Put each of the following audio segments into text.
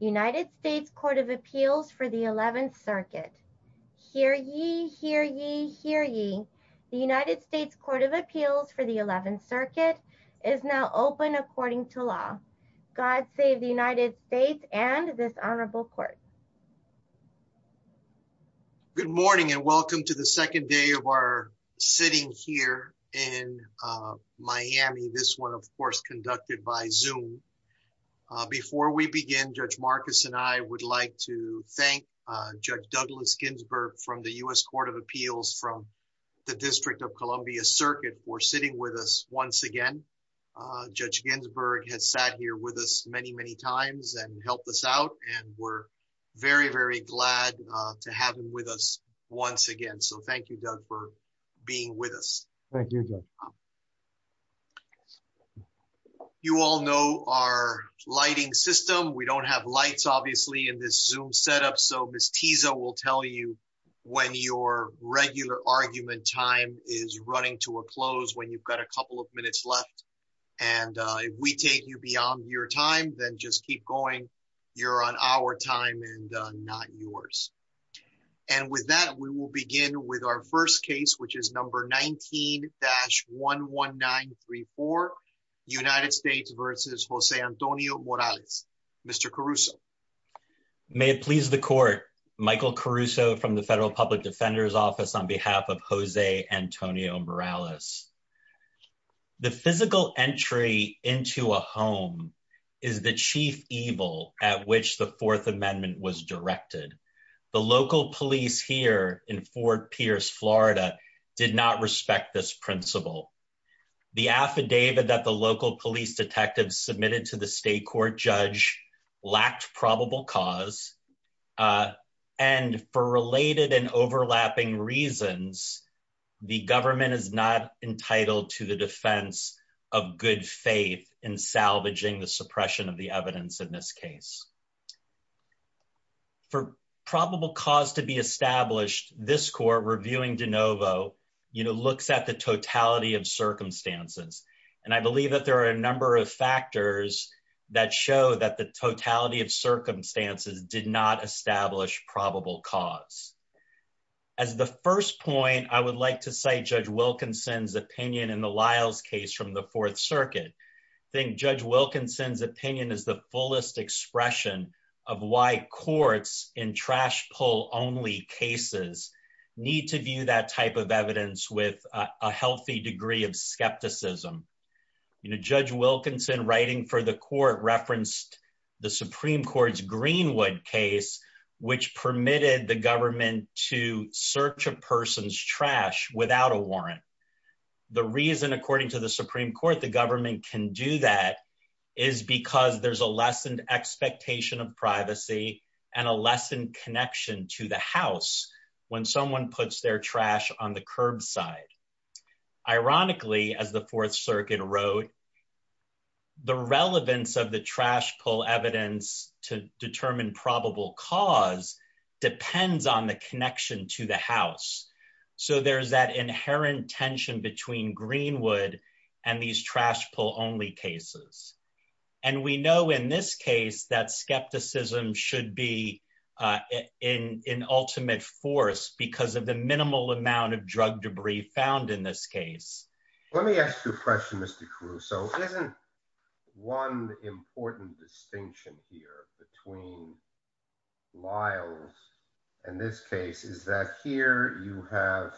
United States Court of Appeals for the 11th circuit. Hear ye, hear ye, hear ye. The United States Court of Appeals for the 11th circuit is now open according to law. God save the United States and this honorable court. Good morning and welcome to the second day of our sitting here in Before we begin, Judge Marcus and I would like to thank Judge Douglas Ginsburg from the U.S. Court of Appeals from the District of Columbia circuit for sitting with us once again. Judge Ginsburg has sat here with us many, many times and helped us out and we're very, very glad to have him with us once again. So thank you, Doug, for being with us. Thank you. You all know our lighting system. We don't have lights, obviously, in this Zoom setup. So Ms. Tiza will tell you when your regular argument time is running to a close, when you've got a couple of minutes left. And if we take you beyond your time, then just keep going. You're on our not yours. And with that, we will begin with our first case, which is number 19-11934, United States versus Jose Antonio Morales. Mr. Caruso. May it please the court. Michael Caruso from the Federal Public Defender's Office on behalf of Jose Antonio Morales. Thank you, Mr. Caruso. I would like to begin by saying that this is a case in which the United States Department of Justice's Fourth Amendment was directed. The local police here in Fort Pierce, Florida, did not respect this principle. The affidavit that the local police detectives submitted to the state court judge lacked probable cause. And for related and overlapping reasons, the government is not entitled to the defense of good faith in salvaging the suppression of the evidence in this case. For probable cause to be established, this court, reviewing de novo, looks at the totality of circumstances. And I believe that there are a number of factors that show that the totality of circumstances did not establish probable cause. As the first point, I would like to cite Judge Wilkinson's opinion in the Lyles case from the Fourth Circuit. I think Judge Wilkinson's opinion is the fullest expression of why courts in trash pull only cases need to view that type of evidence with a healthy degree of skepticism. You know, Judge Wilkinson writing for the court referenced the Supreme Court's Greenwood case, which permitted the government to search a person's trash without a warrant. The reason, according to the Supreme Court, the government can do that is because there's a lessened expectation of privacy and a lessened connection to the house when someone puts their trash on the curbside. Ironically, as the Fourth Circuit wrote, the relevance of the trash pull evidence to determine probable cause depends on the connection to the house. So there's that inherent tension between Greenwood and these trash pull only cases. And we know in this case that skepticism should be in ultimate force because of the minimal amount of drug debris found in this case. Let me ask you a question, Mr. Cruz. Isn't one important distinction here between Lyles and this case is that here you have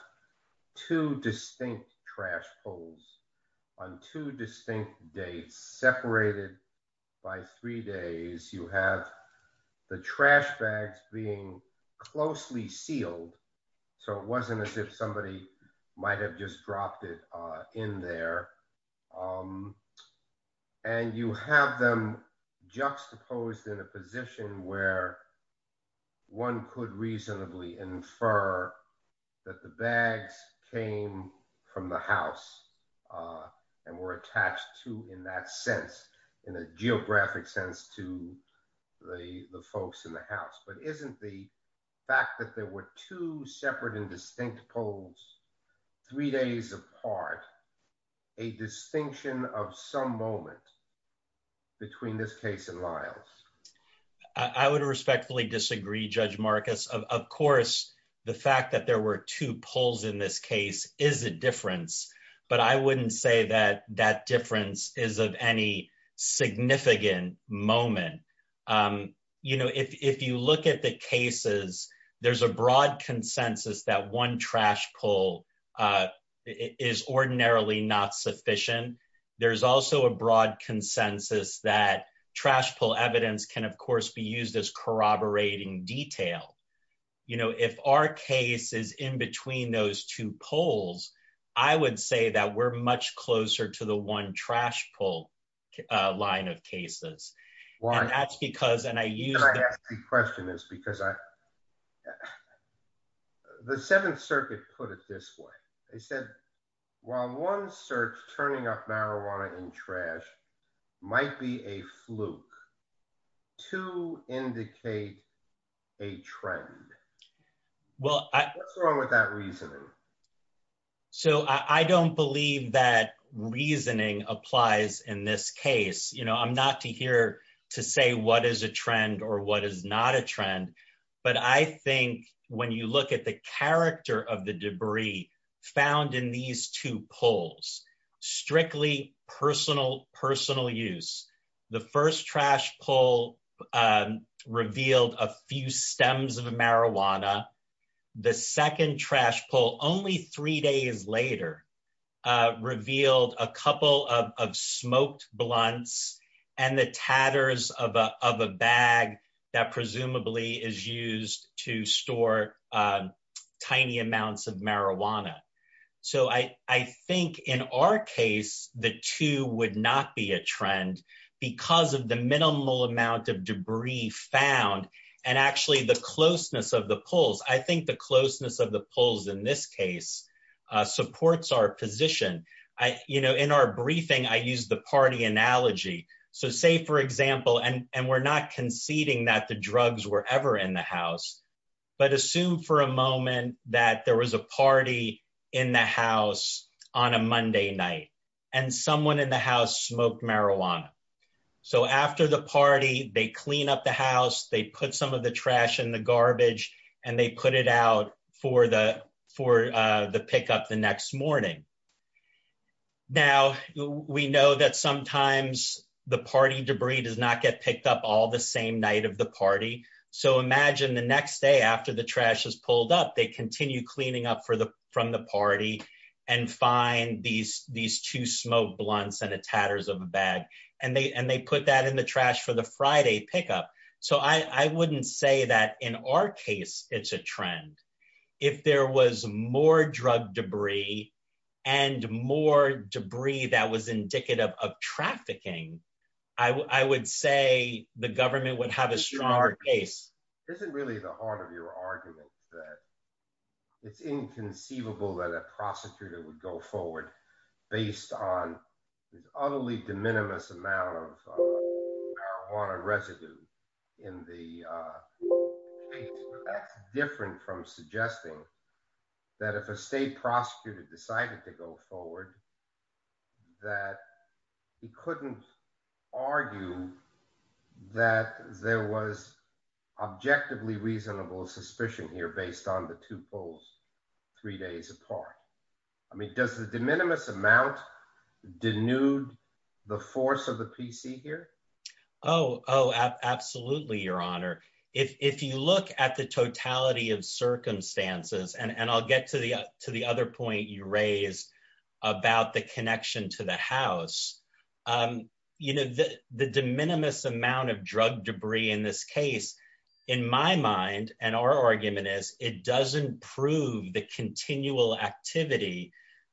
two distinct trash pulls on two distinct dates separated by three days. You have the trash bags being closely sealed. So it wasn't as if somebody might have just dropped it in there. And you have them juxtaposed in a position where one could reasonably infer that the bags came from the house and were attached to in that sense, in a geographic sense to the folks in the house. But isn't the fact that there were two separate and distinct pulls three days apart a distinction of some moment between this case and Lyles? I would respectfully disagree, Judge Marcus. Of course, the fact that there were two pulls in this case is a difference. But I wouldn't say that that difference is of any significant moment. You know, if you look at the cases, there's a broad consensus that one trash pull is ordinarily not sufficient. There's also a broad consensus that trash pull evidence can, of course, be used as corroborating detail. You know, if our case is in between those two pulls, I would say that we're much closer to the one trash pull line of cases. The seventh circuit put it this way. They said, well, one search turning up marijuana in trash might be a fluke to indicate a trend. Well, what's wrong with that reasoning? So I don't believe that reasoning applies in this case. You know, I'm not here to say what is a trend or what is not a trend. But I think when you look at the character of the debris found in these two pulls, strictly personal use. The first trash pull revealed a few stems of marijuana. The second trash pull, only three days later, revealed a couple of smoked blunts and the tatters of a bag that presumably is used to store tiny amounts of marijuana. So I think in our case, the two would not be a trend because of the minimal amount of debris found and actually the closeness of the pulls. I think the closeness of the pulls in this case supports our position. You know, in our briefing, I used the party analogy. So say, for example, and we're not conceding that the drugs were ever in the house, but assume for a moment that there was a party in the house on a Monday night and someone in the house smoked marijuana. So after the party, they clean up the house, they put some of the trash in the garbage, and they put it out for the pickup the next morning. Now, we know that sometimes the party debris does not get picked up all the same night of the party. So imagine the next day after the party and find these two smoked blunts and the tatters of a bag, and they put that in the trash for the Friday pickup. So I wouldn't say that in our case, it's a trend. If there was more drug debris and more debris that was indicative of trafficking, I would say the government would have a stronger case. Isn't really the heart of your argument that it's inconceivable that a prosecutor would go forward based on this utterly de minimis amount of marijuana residue in the different from suggesting that if a state prosecutor decided to go forward, that he couldn't argue that there was objectively reasonable suspicion here based on the two polls three days apart? I mean, does the de minimis amount denude the force of the PC here? Oh, absolutely, Your Honor. If you look at the totality of circumstances, and I'll get to the connection to the house, the de minimis amount of drug debris in this case, in my mind, and our argument is, it doesn't prove the continual activity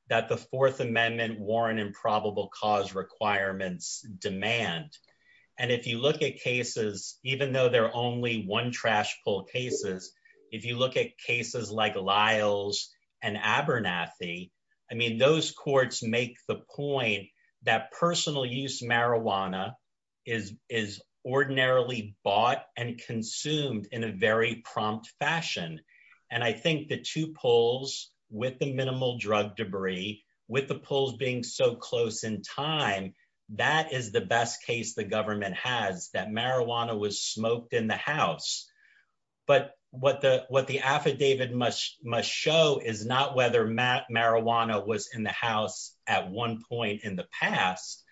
that the Fourth Amendment Warren and probable cause requirements demand. And if you look at cases, even though they're make the point that personal use marijuana is is ordinarily bought and consumed in a very prompt fashion. And I think the two polls with the minimal drug debris with the polls being so close in time, that is the best case the government has that marijuana was smoked in the house. But what the what the affidavit must must show is not whether Matt marijuana was in the house at one point in the past,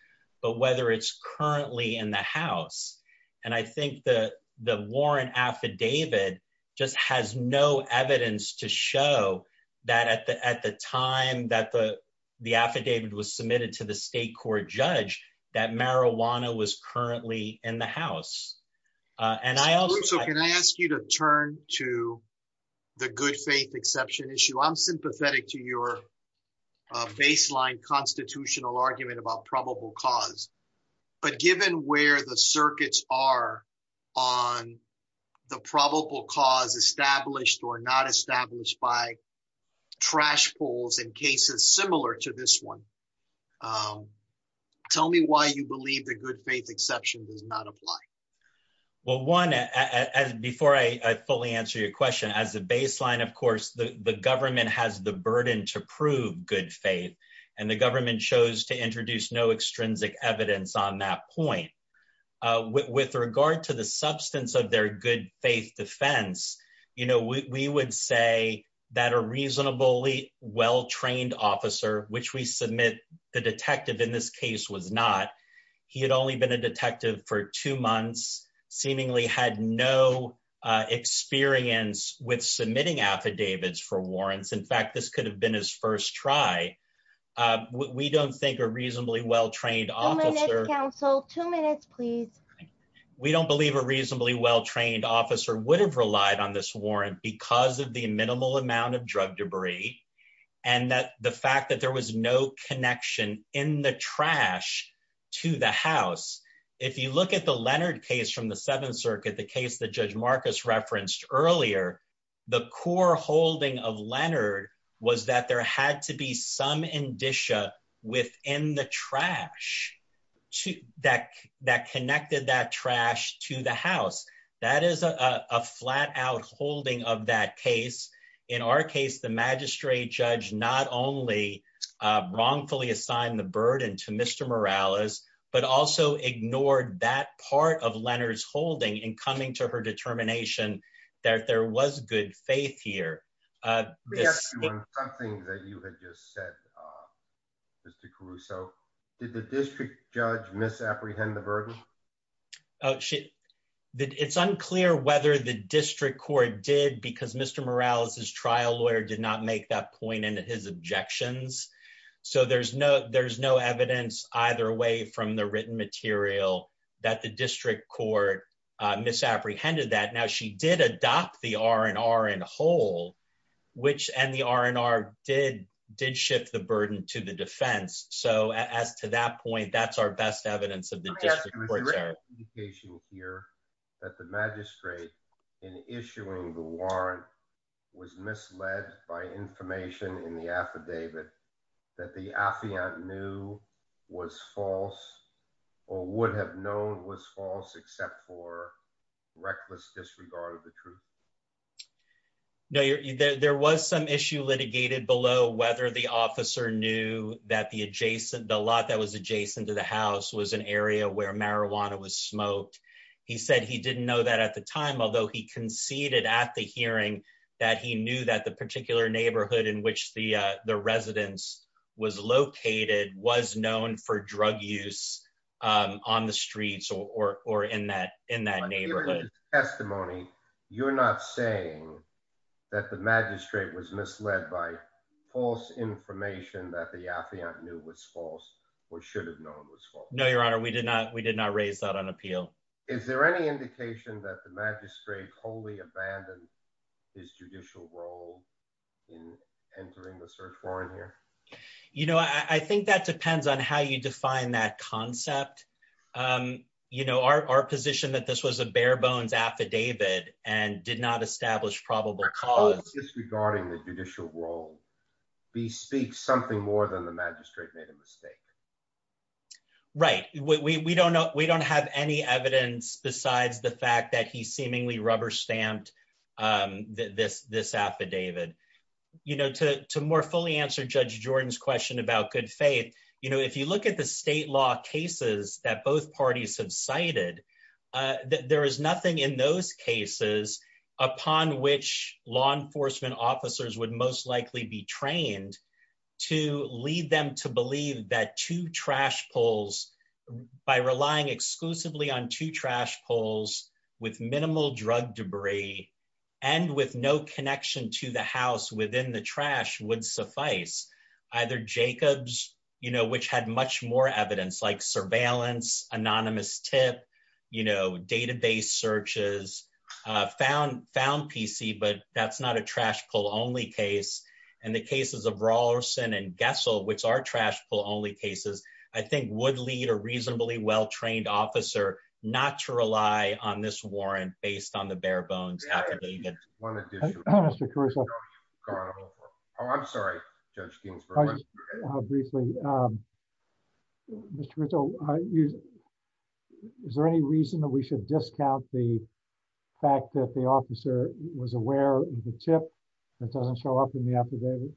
but whether it's currently in the house. And I think the the Warren affidavit just has no evidence to show that at the at the time that the the affidavit was submitted to the state court judge that marijuana was currently in the house. And I also can I ask you to turn to the good faith exception issue. I'm sympathetic to your baseline constitutional argument about probable cause. But given where the circuits are on the probable cause established or not established by trash poles in cases similar to this one. Tell me why you believe the good faith exception does not apply. Well, one, before I fully answer your question as a baseline, of course, the government has the burden to prove good faith. And the government chose to introduce no extrinsic evidence on that point. With regard to the substance of their good faith defense, you know, we would say that a case was not he had only been a detective for two months, seemingly had no experience with submitting affidavits for warrants. In fact, this could have been his first try. We don't think a reasonably well trained officer counsel two minutes, please. We don't believe a reasonably well trained officer would have relied on this warrant because of the minimal amount of drug debris. And that the fact that there was no connection the trash to the house. If you look at the Leonard case from the Seventh Circuit, the case that Judge Marcus referenced earlier, the core holding of Leonard was that there had to be some indicia within the trash to that that connected that trash to the house. That is a flat out holding of that case. In our case, the magistrate judge not only wrongfully assigned the burden to Mr. Morales, but also ignored that part of Leonard's holding and coming to her determination that there was good faith here. Something that you had just said, Mr. Caruso, did the district judge misapprehend the burden? Oh, it's unclear whether the district court did because Mr. Morales' trial lawyer did not make that point in his objections. So there's no evidence either way from the written material that the district court misapprehended that. Now she did adopt the R&R in whole, which and the R&R did shift the burden to the defense. So as to that point, that's our best evidence of the district court's error. I have to make a clarification here that the magistrate in issuing the warrant was misled by information in the affidavit that the affiant knew was false or would have known was false except for reckless disregard of the truth. No, there was some issue litigated below whether the officer knew that the adjacent, the lot that was adjacent to the house was an area where marijuana was smoked. He said he didn't know that at the time, although he conceded at the hearing that he knew that the particular neighborhood in which the residence was located was known for drug use on the streets or in that neighborhood. In your testimony, you're not saying that the magistrate was misled by false information that the affiant knew was false or should have known was false. No, Your Honor, we did not. We did not raise that on appeal. Is there any indication that the magistrate wholly abandoned his judicial role in entering the search warrant here? You know, I think that depends on how you define that concept. You know, our position that this was a bare bones affidavit and did not establish probable cause. Disregarding the judicial role, he speaks something more than the magistrate made a mistake. Right. We don't have any evidence besides the fact that he seemingly rubber stamped this affidavit. You know, to more fully answer Judge Jordan's question about good faith, you know, if you look at the state law cases that both parties have cited, that there is nothing in those cases upon which law enforcement officers would most likely be trained to lead them to believe that two trash poles by relying exclusively on two trash poles with minimal drug debris and with no connection to the house within the trash would suffice. Either Jacobs, you know, which had much more evidence like surveillance, anonymous tip, you know, database searches, found found PC, but that's not a trash pull only case. And the cases of Rawlinson and Gessel, which are trash pull only cases, I think would lead a reasonably well trained officer not to rely on this warrant based on the bare bones affidavit. Mr. Caruso. Oh, I'm sorry, Judge Ginsburg. Briefly, Mr. Caruso, is there any reason that we should discount the fact that the officer was aware of the tip that doesn't show up in the affidavit?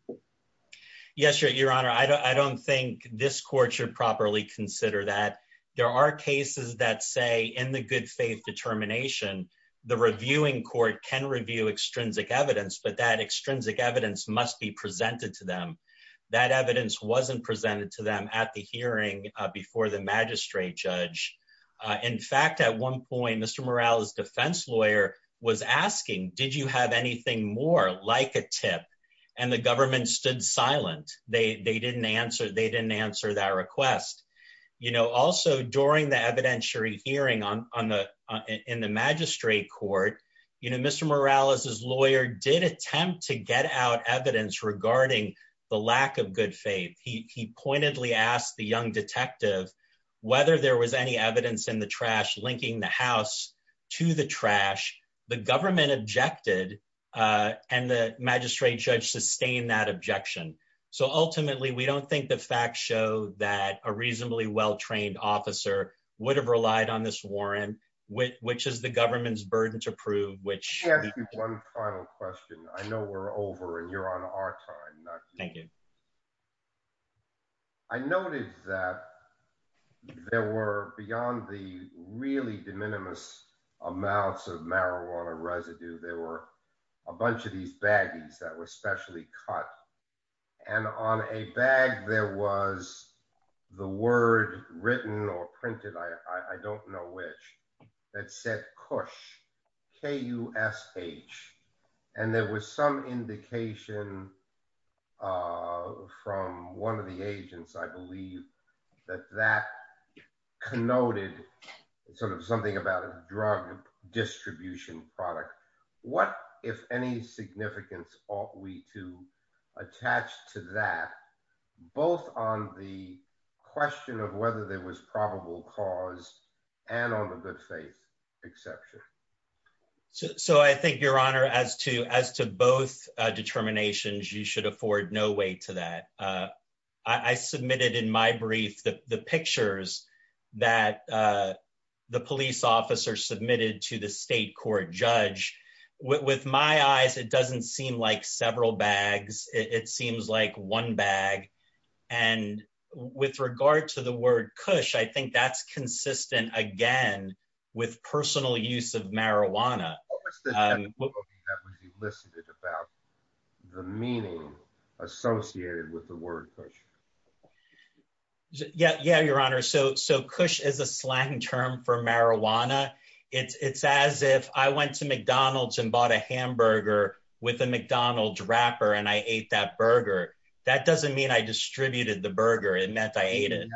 Yes, Your Honor, I don't think this court should properly consider that. There are cases that say in the good faith determination, the reviewing court can review extrinsic evidence, but that extrinsic evidence must be presented to them. That evidence wasn't presented to them at the hearing before the magistrate judge. In fact, at one point, Mr. Morales, defense lawyer was asking, did you have anything more like a tip? And the government stood silent. They didn't answer. They didn't answer that request. Also, during the evidentiary hearing in the magistrate court, Mr. Morales' lawyer did attempt to get out evidence regarding the lack of good faith. He pointedly asked the young detective whether there was any evidence in the trash linking the house to the trash. The government objected and the magistrate judge sustained that objection. So ultimately, we don't think the facts show that a reasonably well-trained officer would have relied on this warrant, which is the government's burden to prove, which- Let me ask you one final question. I know we're over and you're on our time. Thank you. I noticed that there were beyond the really de minimis amounts of marijuana residue, there were a bunch of these baggies that were specially cut. And on a bag, there was the word written or printed, I don't know which, that said, KUSH, K-U-S-H. And there was some indication from one of the agents, I believe, that that connoted something about a drug distribution product. What, if any, significance ought we to attach to that, both on the question of whether there was probable cause and on the good faith exception? So I think, Your Honor, as to both determinations, you should afford no weight to that. I submitted in my brief the pictures that the police officer submitted to the state court judge. With my eyes, it doesn't seem like several bags. It seems like one bag. And with regard to the word KUSH, I think that's consistent, again, with personal use of marijuana. What was the logo that was elicited about the meaning associated with the word KUSH? Yeah, Your Honor, so KUSH is a slang term for marijuana. It's as if I went to McDonald's and bought a hamburger with a McDonald's wrapper and I ate that burger. That doesn't mean I distributed the burger. It meant I ate it.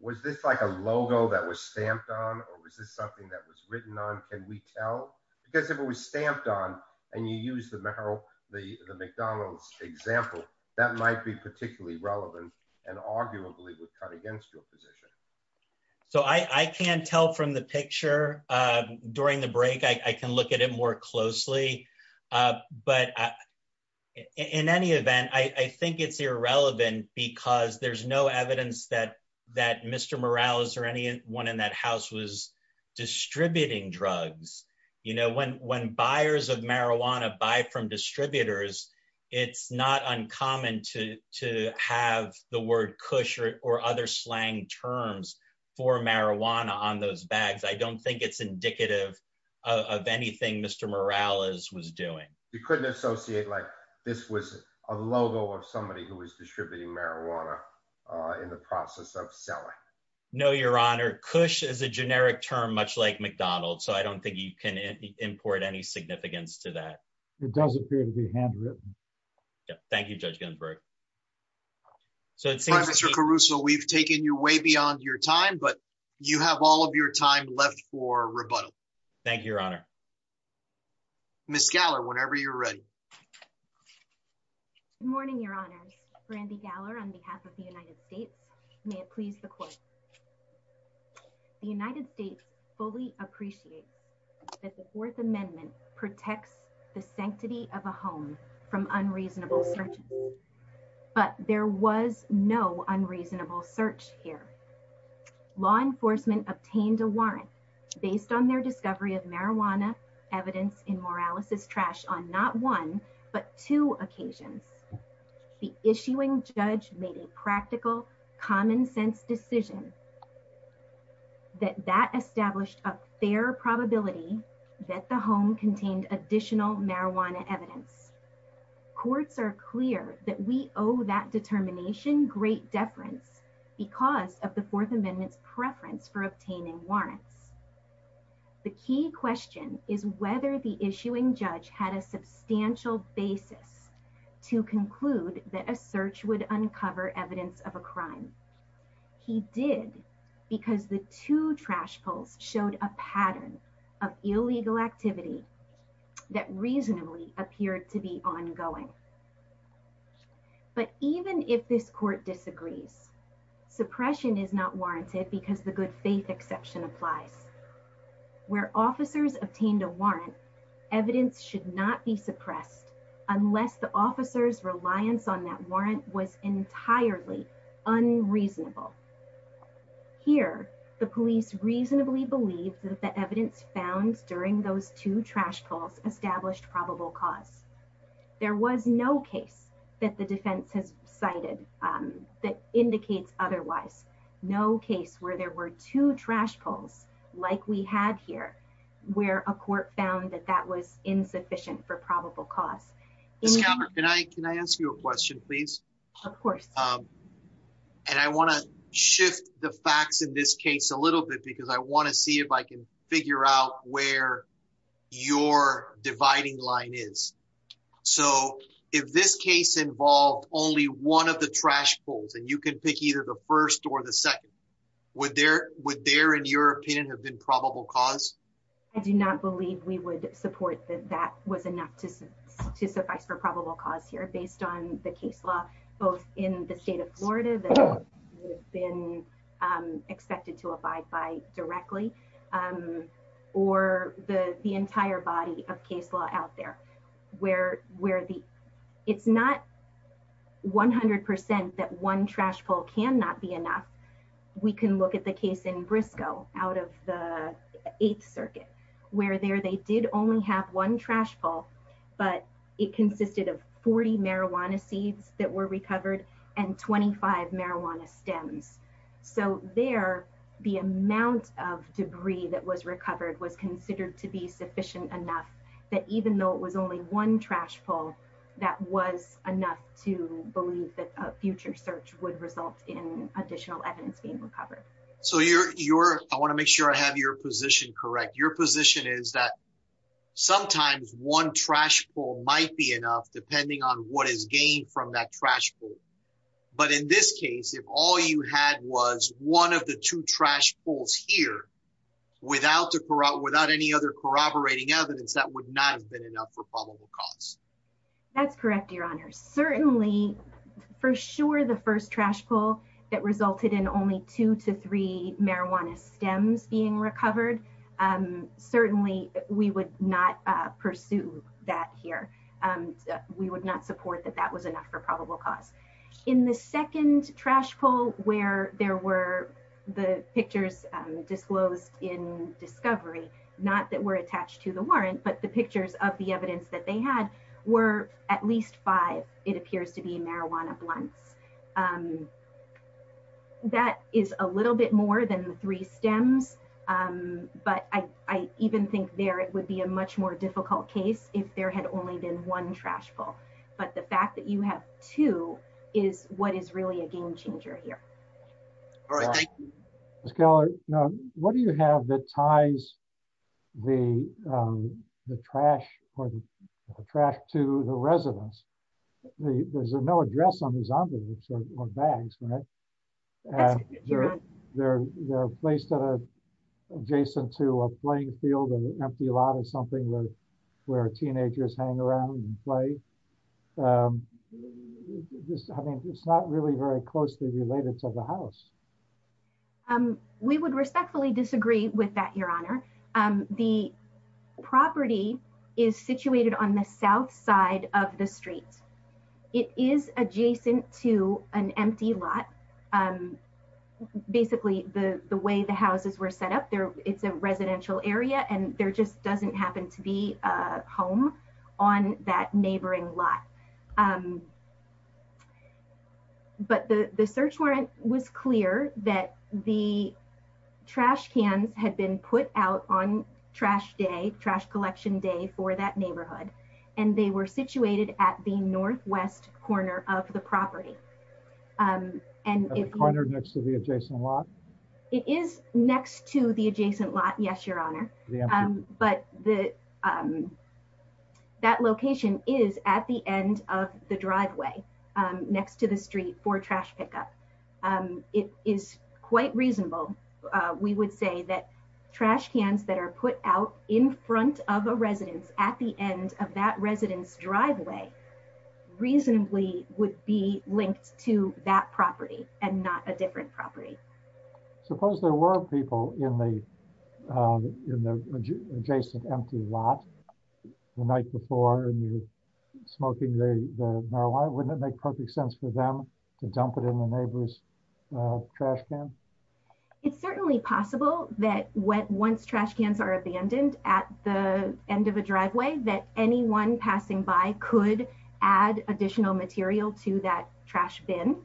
Was this like a logo that was stamped on? Or was this something that was written on? Can we tell? Because if it was stamped on and you use the McDonald's example, that might be particularly relevant and arguably would cut against your position. So I can't tell from the picture. During the break, I can look at it more closely. But in any event, I think it's irrelevant because there's no evidence that Mr. Morales or anyone in that house was distributing drugs. When buyers of marijuana buy from distributors, it's not uncommon to have the word KUSH or other slang terms for marijuana on those bags. I don't think it's indicative of anything Mr. Morales was doing. You couldn't associate like this was a logo of somebody who was distributing marijuana in the process of selling? No, Your Honor. KUSH is a generic term, much like McDonald's. So I don't think you can import any significance to that. It does appear to be handwritten. Yeah. Thank you, Judge Ginsburg. So it seems Mr. Caruso, we've taken you way beyond your time, but you have all of your time left for rebuttal. Thank you, Your Honor. Ms. Galler, whenever you're ready. Good morning, Your Honors. Brandi Galler on behalf of the United States. May it please the court. The United States fully appreciates that the Fourth Amendment protects the sanctity of a home from unreasonable searches. But there was no unreasonable search here. Law enforcement obtained a warrant based on their discovery of marijuana evidence in Morales's trash on not one, but two occasions. The issuing judge made a practical common sense decision that that established a fair probability that the home contained additional marijuana evidence. Courts are clear that we owe that determination great deference because of the Fourth Amendment's preference for obtaining warrants. The key question is whether the issuing judge had a substantial basis to conclude that a search would uncover evidence of a crime. He did because the two trash pulls showed a pattern of illegal activity that reasonably appeared to be ongoing. But even if this court disagrees, suppression is not warranted because the good faith exception applies. Unless the officer's reliance on that warrant was entirely unreasonable. Here, the police reasonably believe that the evidence found during those two trash pulls established probable cause. There was no case that the defense has cited that indicates otherwise. No case where there were two trash pulls like we had here where a court found that that was insufficient for probable cause. Can I ask you a question, please? Of course. And I want to shift the facts in this case a little bit because I want to see if I can figure out where your dividing line is. So if this case involved only one of the trash pulls and you can pick either the first or the second, would there in your opinion have been probable cause? I do not believe we would support that that was enough to suffice for probable cause here based on the case law, both in the state of Florida that would have been expected to abide by directly or the entire body of case law out there. Where it's not 100% that one trash pull cannot be enough. We can look at the case in Briscoe out of the 8th Circuit where there they did only have one trash pull, but it consisted of 40 marijuana seeds that were recovered and 25 marijuana stems. So there the amount of debris that was recovered was considered to be sufficient enough that even though it was only one trash pull, that was enough to believe that a future search would result in additional evidence being recovered. So I want to make sure I have your position correct. Your position is that sometimes one trash pull might be enough depending on what is gained from that trash pull. But in this case, if all you had was one of the two trash pulls here without any other corroborating evidence, that would not have been enough for probable cause. That's correct, Your Honor. Certainly, for sure, the first trash pull that resulted in only two to three marijuana stems being recovered, certainly we would not pursue that here. We would not support that that was enough for probable cause. In the second trash pull where there were the pictures disclosed in discovery, not that were attached to the warrant, but the pictures of the evidence that they had were at least five. It appears to be marijuana blunts. That is a little bit more than the three stems, but I even think there it would be a much more difficult case if there had only been one trash pull. But the fact that you have two is what is really a game changer here. All right, thank you. Ms. Keller, what do you have that ties the trash to the residents? There's no address on these envelopes or bags, right? They're placed at a adjacent to a playing field and an empty lot or something where teenagers hang around and play. I mean, it's not really very closely related to the house. We would respectfully disagree with that, Your Honor. The property is situated on the south side of the street. It is adjacent to an empty lot. Basically, the way the houses were set up there, it's a residential area and there just doesn't happen to be a home on that neighboring lot. But the search warrant was clear that the trash cans had been put out on Trash Day, Trash Collection Day for that neighborhood, and they were situated at the northwest corner of the property. And the corner next to the adjacent lot? It is next to the adjacent lot. Yes, Your Honor. But that location is at the end of the driveway next to the street for trash pickup. It is quite reasonable. We would say that trash cans that are put out in front of a residence at the end of that residence driveway reasonably would be linked to that property and not a different property. Suppose there were people in the adjacent empty lot the night before and you're smoking the marijuana. Wouldn't it make perfect sense for them to dump it in the neighbor's trash can? It's certainly possible that once trash cans are abandoned at the end of a driveway that anyone passing by could add additional material to that trash bin.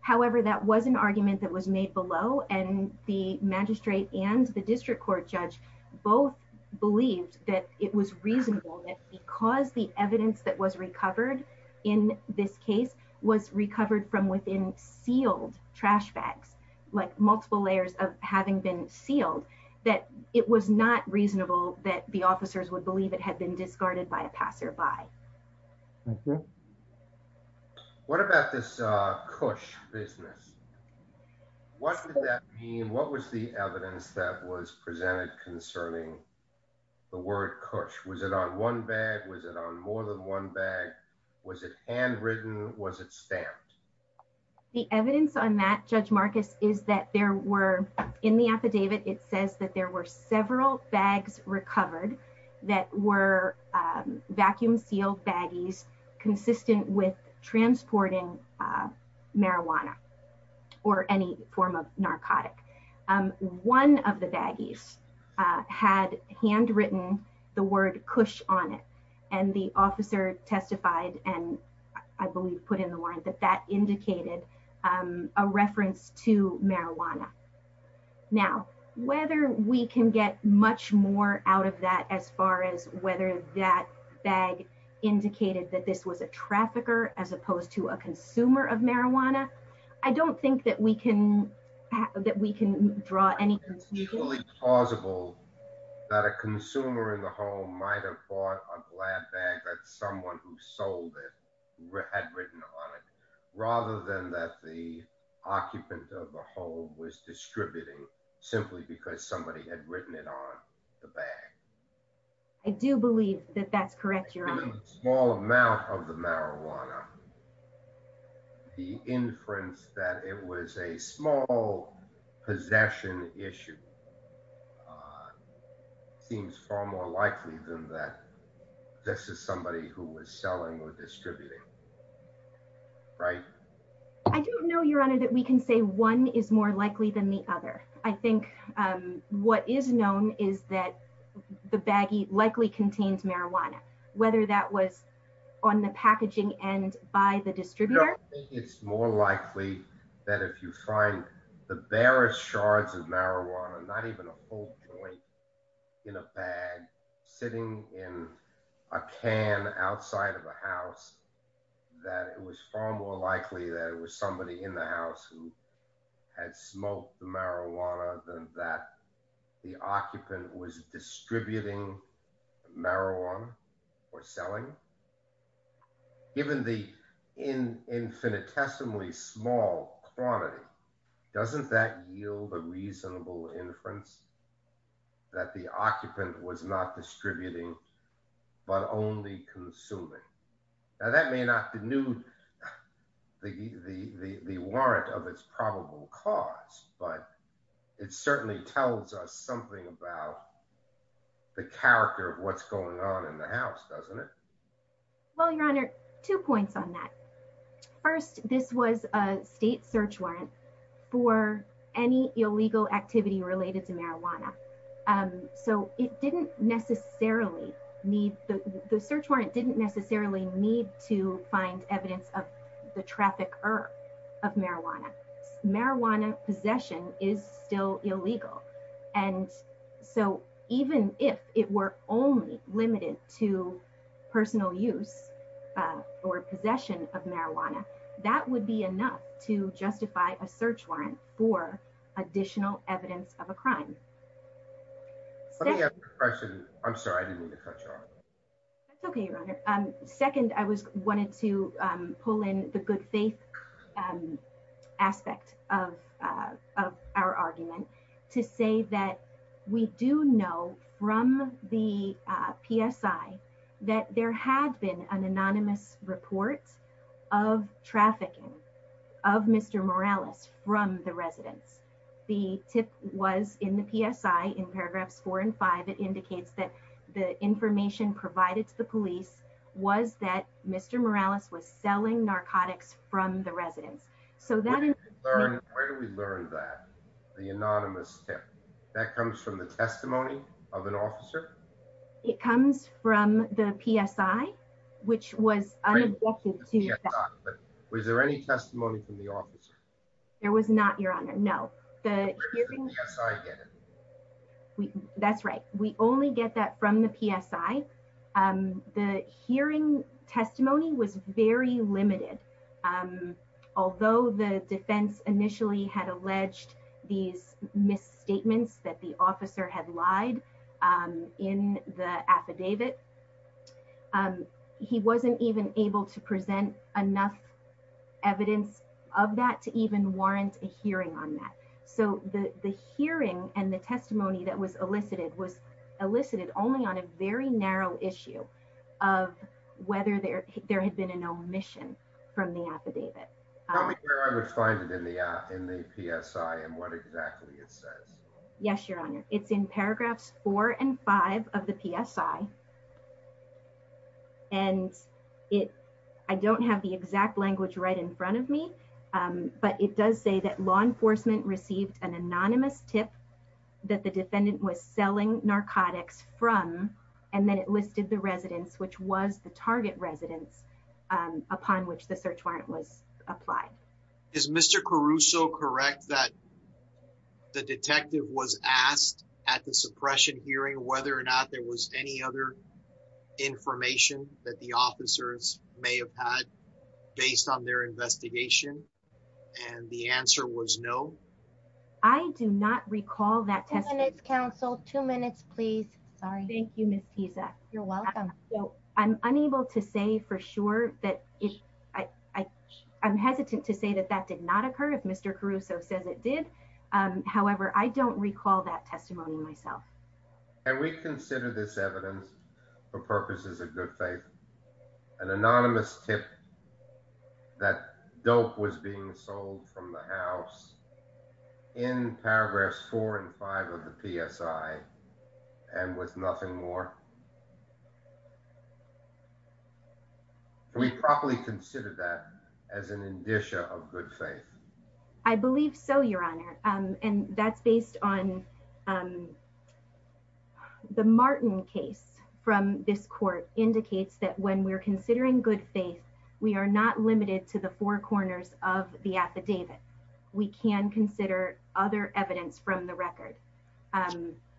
However, that was an argument that was made below, and the magistrate and the district court judge both believed that it was reasonable that because the evidence that was recovered in this case was recovered from within sealed trash bags, like multiple layers of having been sealed, that it was not reasonable that the officers would believe it had been discarded by a passerby. Thank you. What about this KUSH business? What did that mean? What was the evidence that was presented concerning the word KUSH? Was it on one bag? Was it on more than one bag? Was it handwritten? Was it stamped? The evidence on that, Judge Marcus, is that there were, in the affidavit, it says that there were several bags recovered that were vacuum-sealed baggies consistent with transporting marijuana or any form of narcotic. One of the baggies had handwritten the word KUSH on it, and the officer testified, and I believe put in the warrant, Now, whether we can get much more out of that, as far as whether that bag indicated that this was a trafficker, as opposed to a consumer of marijuana, I don't think that we can draw any conclusions. Is it truly plausible that a consumer in the home might have bought a glad bag that someone who sold it had written on it, other than that the occupant of the home was distributing simply because somebody had written it on the bag? I do believe that that's correct, Your Honor. Given the small amount of the marijuana, the inference that it was a small possession issue seems far more likely than that this is somebody who was selling or distributing, right? I don't know, Your Honor, that we can say one is more likely than the other. I think what is known is that the baggie likely contains marijuana, whether that was on the packaging end by the distributor. I think it's more likely that if you find the barest shards of marijuana, not even a whole joint in a bag, sitting in a can outside of a house, that it was far more likely that it was somebody in the house who had smoked the marijuana than that the occupant was distributing marijuana or selling. Given the infinitesimally small quantity, doesn't that yield a reasonable inference that the occupant was not distributing but only consuming? Now, that may not denude the warrant of its probable cause, but it certainly tells us something about the character of what's going on in the house, doesn't it? Well, Your Honor, two points on that. First, this was a state search warrant for any illegal activity related to marijuana. So the search warrant didn't necessarily need to find evidence of the trafficker of marijuana. Marijuana possession is still illegal. And so even if it were only limited to personal use or possession of marijuana, that would be enough to justify a search warrant for additional evidence of a crime. Let me ask you a question. I'm sorry, I didn't mean to cut you off. That's okay, Your Honor. Second, I wanted to pull in the good faith aspect of our argument to say that we do know from the PSI that there had been an anonymous report of trafficking of Mr. Morales from the residence. The tip was in the PSI. In paragraphs four and five, it indicates that the information provided to the police was that Mr. Morales was selling narcotics from the residence. So that... Where do we learn that, the anonymous tip? That comes from the testimony of an officer? It comes from the PSI, which was unobjective to... Was there any testimony from the officer? There was not, Your Honor. No. That's right. We only get that from the PSI. The hearing testimony was very limited. Although the defense initially had alleged these misstatements that the officer had lied in the affidavit, he wasn't even able to present enough evidence of that to even warrant a hearing on that. So the hearing and the testimony that was elicited was elicited only on a very narrow issue of whether there had been an omission from the affidavit. Tell me where I would find it in the PSI and what exactly it says. Yes, Your Honor. It's in paragraphs four and five of the PSI. And I don't have the exact language right in front of me, but it does say that law enforcement received an anonymous tip that the defendant was selling narcotics from, and then it listed the residence, which was the target residence upon which the search warrant was applied. Is Mr. Caruso correct that the detective was asked at the suppression hearing, whether or not there was any other information that the officers may have had based on their investigation? And the answer was no. I do not recall that testimony. Two minutes, counsel. Two minutes, please. Sorry. Thank you, Ms. Tiza. You're welcome. So I'm unable to say for sure that it, I'm hesitant to say that that did not occur if Mr. Caruso says it did. However, I don't recall that testimony myself. And we consider this evidence for purposes of good faith, an anonymous tip that dope was being sold from the house in paragraphs four and five of the PSI and was nothing more. We probably consider that as an indicia of good faith. I believe so, your honor. And that's based on the Martin case from this court indicates that when we're considering good faith, we are not limited to the four corners of the affidavit. We can consider other evidence from the record.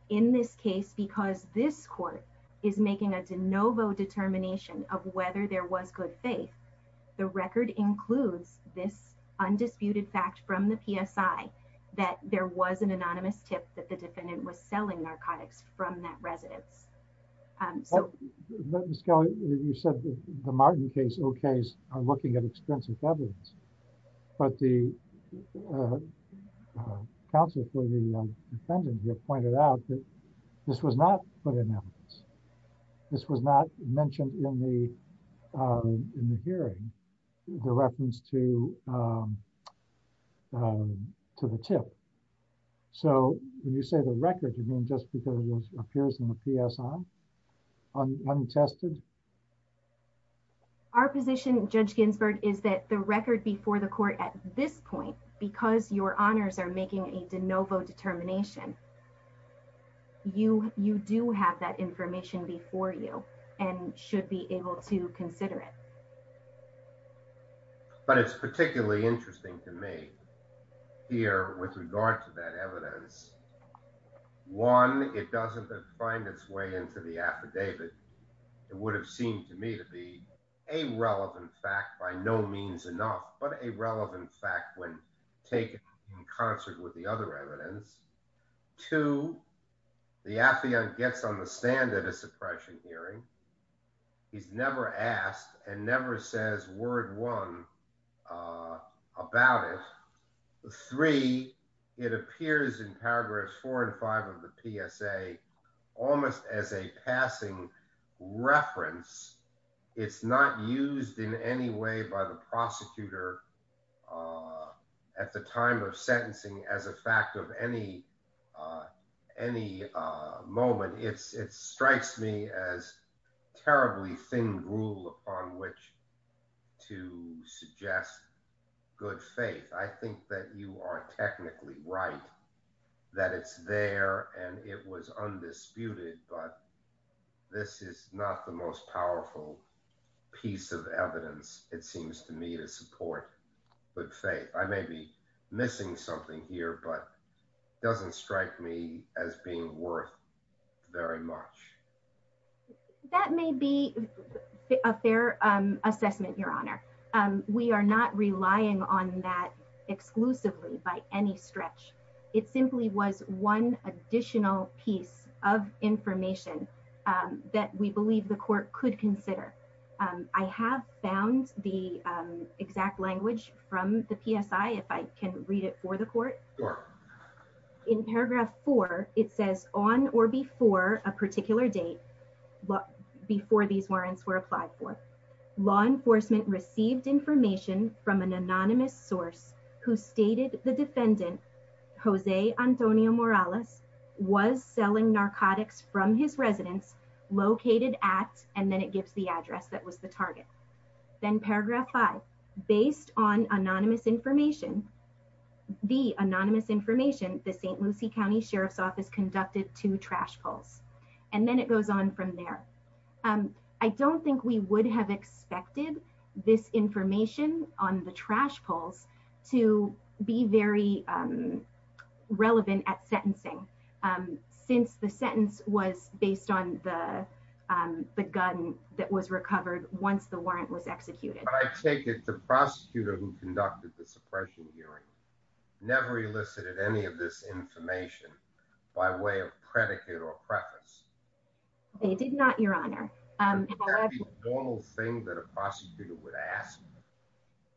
In this case, because this court is making a DeNovo determination of whether there was good faith, the record includes this undisputed fact from the PSI that there was an anonymous tip that the defendant was selling narcotics from that residence. So, Ms. Kelly, you said the Martin case okays on looking at expensive evidence, but the counsel for the defendant here pointed out this was not put in evidence. This was not mentioned in the hearing, the reference to the tip. So when you say the record, you mean just because it appears in the PSI, untested? Our position, Judge Ginsburg, is that the record before the court at this point, because your honors are making a DeNovo determination, you do have that information before you and should be able to consider it. But it's particularly interesting to me here with regard to that evidence. One, it doesn't find its way into the affidavit. It would have seemed to me to be a relevant fact by no means enough, but a relevant fact when taken in concert with the other evidence. Two, the affiant gets on the stand at a suppression hearing. He's never asked and never says word one about it. Three, it appears in paragraphs four and five of the PSA almost as a passing reference. It's not used in any way by the prosecutor or at the time of sentencing as a fact of any moment. It strikes me as terribly thin rule upon which to suggest good faith. I think that you are technically right that it's there and it was undisputed, but this is not the most powerful piece of evidence it seems to me to support good faith. I may be missing something here, but it doesn't strike me as being worth very much. That may be a fair assessment, Your Honor. We are not relying on that exclusively by any stretch. It simply was one additional piece of information that we believe the court could consider. I have found the exact language from the PSI if I can read it for the court. In paragraph four, it says on or before a particular date before these warrants were applied for. Law enforcement received information from an anonymous source who stated the defendant, Jose Antonio Morales was selling narcotics from his residence located at, and then it gives the address that was the target. Then paragraph five, based on anonymous information, the anonymous information, the St. Lucie County Sheriff's Office conducted two trash polls. And then it goes on from there. I don't think we would have expected this information on the trash polls to be very relevant at sentencing. Since the sentence was based on the gun that was recovered once the warrant was executed. But I take it the prosecutor who conducted the suppression hearing never elicited any of this information by way of predicate or preface. They did not, Your Honor. Is that a normal thing that a prosecutor would ask?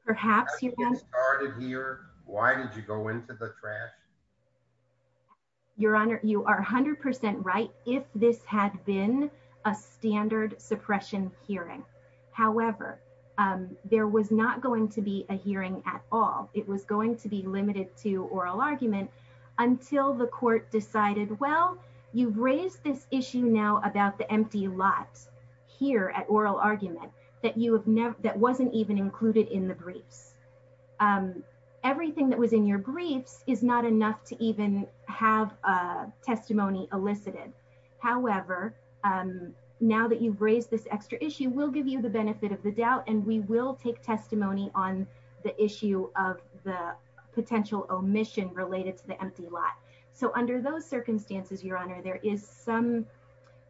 Perhaps, Your Honor. How did you get started here? Why did you go into the trash? Your Honor, you are 100% right if this had been a standard suppression hearing. However, there was not going to be a hearing at all. It was going to be limited to oral argument until the court decided, well, you've raised this issue now about the empty lot here at oral argument that wasn't even included in the briefs. Everything that was in your briefs is not enough to even have a testimony elicited. However, now that you've raised this extra issue, we'll give you the benefit of the doubt and we will take testimony on the issue of the potential omission related to the empty lot. So under those circumstances, Your Honor, there is some,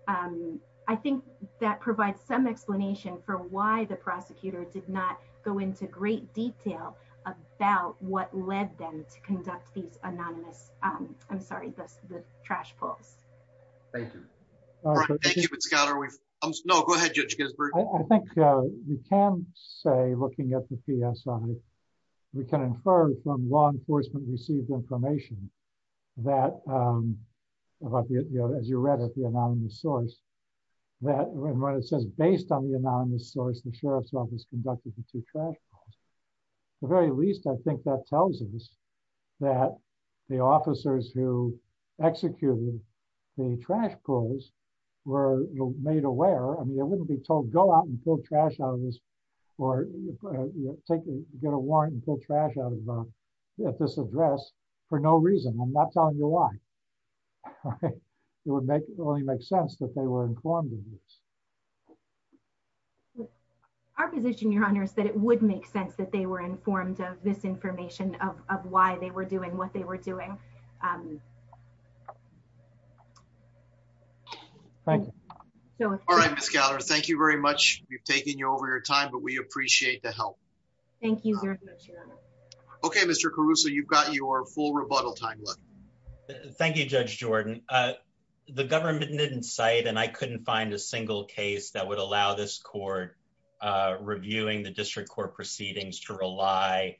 I think that provides some explanation for why the prosecutor did not go into great detail about what led them to conduct these anonymous, I'm sorry, the trash pulls. Thank you. All right. Thank you, but Scott, are we... No, go ahead, Judge Ginsburg. I think we can say, looking at the PSI, we can infer from law enforcement received information that, as you read at the anonymous source, that when it says based on the anonymous source, the Sheriff's office conducted the two trash pulls, the very least I think that tells us that the officers who executed the trash pulls were made aware. I mean, they wouldn't be told, go out and pull trash out of this or get a warrant and pull trash out of this address for no reason. I'm not telling you why. Our position, Your Honor, is that it would make sense that they were informed of this information of why they were doing what they were doing. All right, Ms. Gallagher, thank you very much. We've taken you over your time, but we appreciate the help. Thank you very much, Your Honor. Okay, Mr. Caruso, you've got your full rebuttal time left. Thank you, Judge Jordan. The government didn't cite, and I couldn't find a single case that would allow this court reviewing the district court proceedings to rely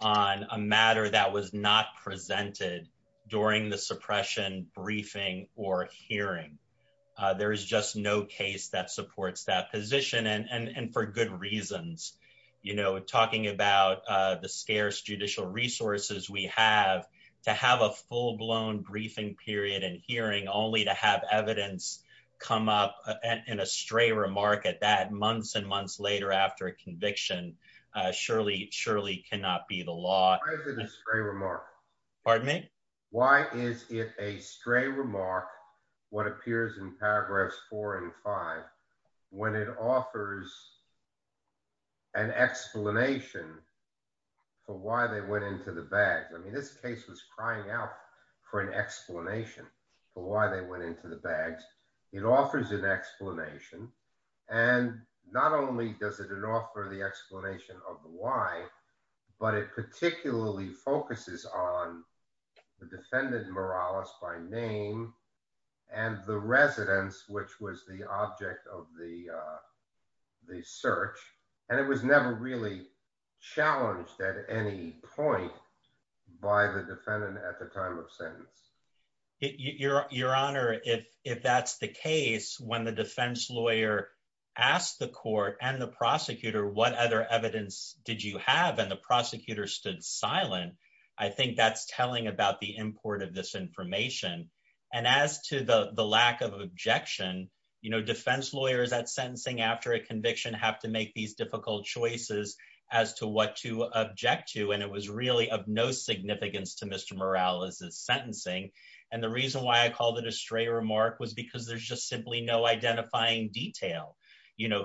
on a matter that was not presented during the suppression briefing or hearing. There is just no case that supports that position and for good reasons. Talking about the scarce judicial resources we have, to have a full-blown briefing period and hearing only to have evidence come up in a stray remark at that months and months later after a conviction, surely cannot be the law. Why is it a stray remark? Pardon me? Why is it a stray remark, what appears in paragraphs four and five, when it offers an explanation for why they went into the bags? I mean, this case was crying out for an explanation for why they went into the bags. It offers an explanation. And not only does it offer the explanation of the why, but it particularly focuses on the defendant Morales by name and the residence, which was the object of the search. And it was never really challenged at any point by the defendant at the time of sentence. Your Honor, if that's the case, when the defense lawyer asked the court and the prosecutor, what other evidence did you have? And the prosecutor stood silent. I think that's telling about the import of this information. And as to the lack of objection, defense lawyers at sentencing after a conviction have to make these difficult choices as to what to object to. And it was really of no significance to Mr. Morales' sentencing. And the reason why I called it a stray remark was because there's just simply no identifying detail.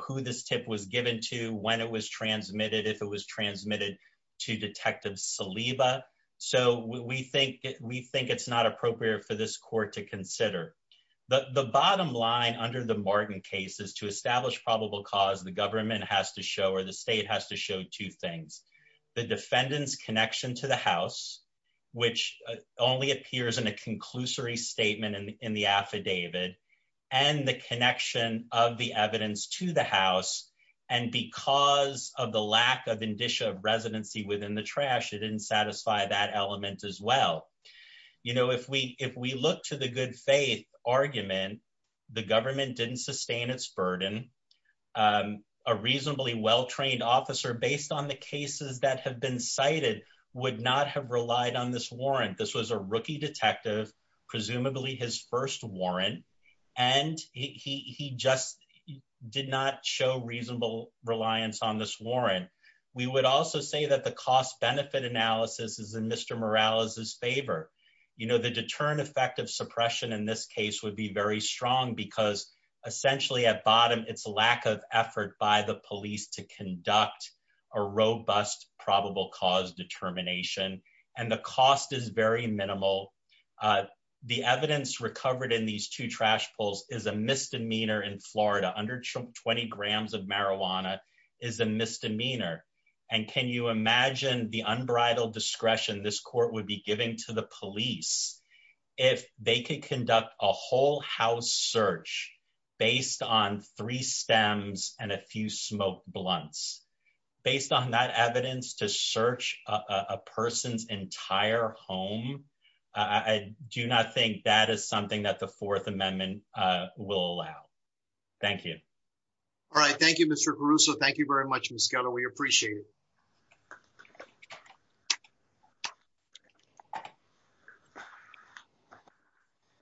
Who this tip was given to, when it was transmitted, if it was transmitted to Detective Saliba. So we think it's not appropriate for this court to consider. But the bottom line under the Martin case is to establish probable cause, the government has to show or the state has to show two things. The defendant's connection to the house, which only appears in a conclusory statement in the affidavit, and the connection of the evidence to the house. And because of the lack of indicia of residency within the trash, it didn't satisfy that element as well. You know, if we look to the good faith argument, the government didn't sustain its burden. A reasonably well-trained officer, based on the cases that have been cited, would not have relied on this warrant. This was a rookie detective, presumably his first warrant. And he just did not show reasonable reliance on this warrant. We would also say that the cost benefit analysis is in Mr. Morales' favor. You know, the deterrent effect of suppression in this case would be very strong because essentially at bottom, it's lack of effort by the police to conduct a robust probable cause determination. And the cost is very minimal. The evidence recovered in these two trash pulls is a misdemeanor in Florida. Under 20 grams of marijuana is a misdemeanor. And can you imagine the unbridled discretion this court would be giving to the police if they could conduct a whole house search based on three stems and a few smoked blunts? Based on that evidence to search a person's entire home, I do not think that is something that the Fourth Amendment will allow. Thank you. All right. Thank you, Mr. Caruso. Thank you very much, Ms. Gatto. We appreciate it.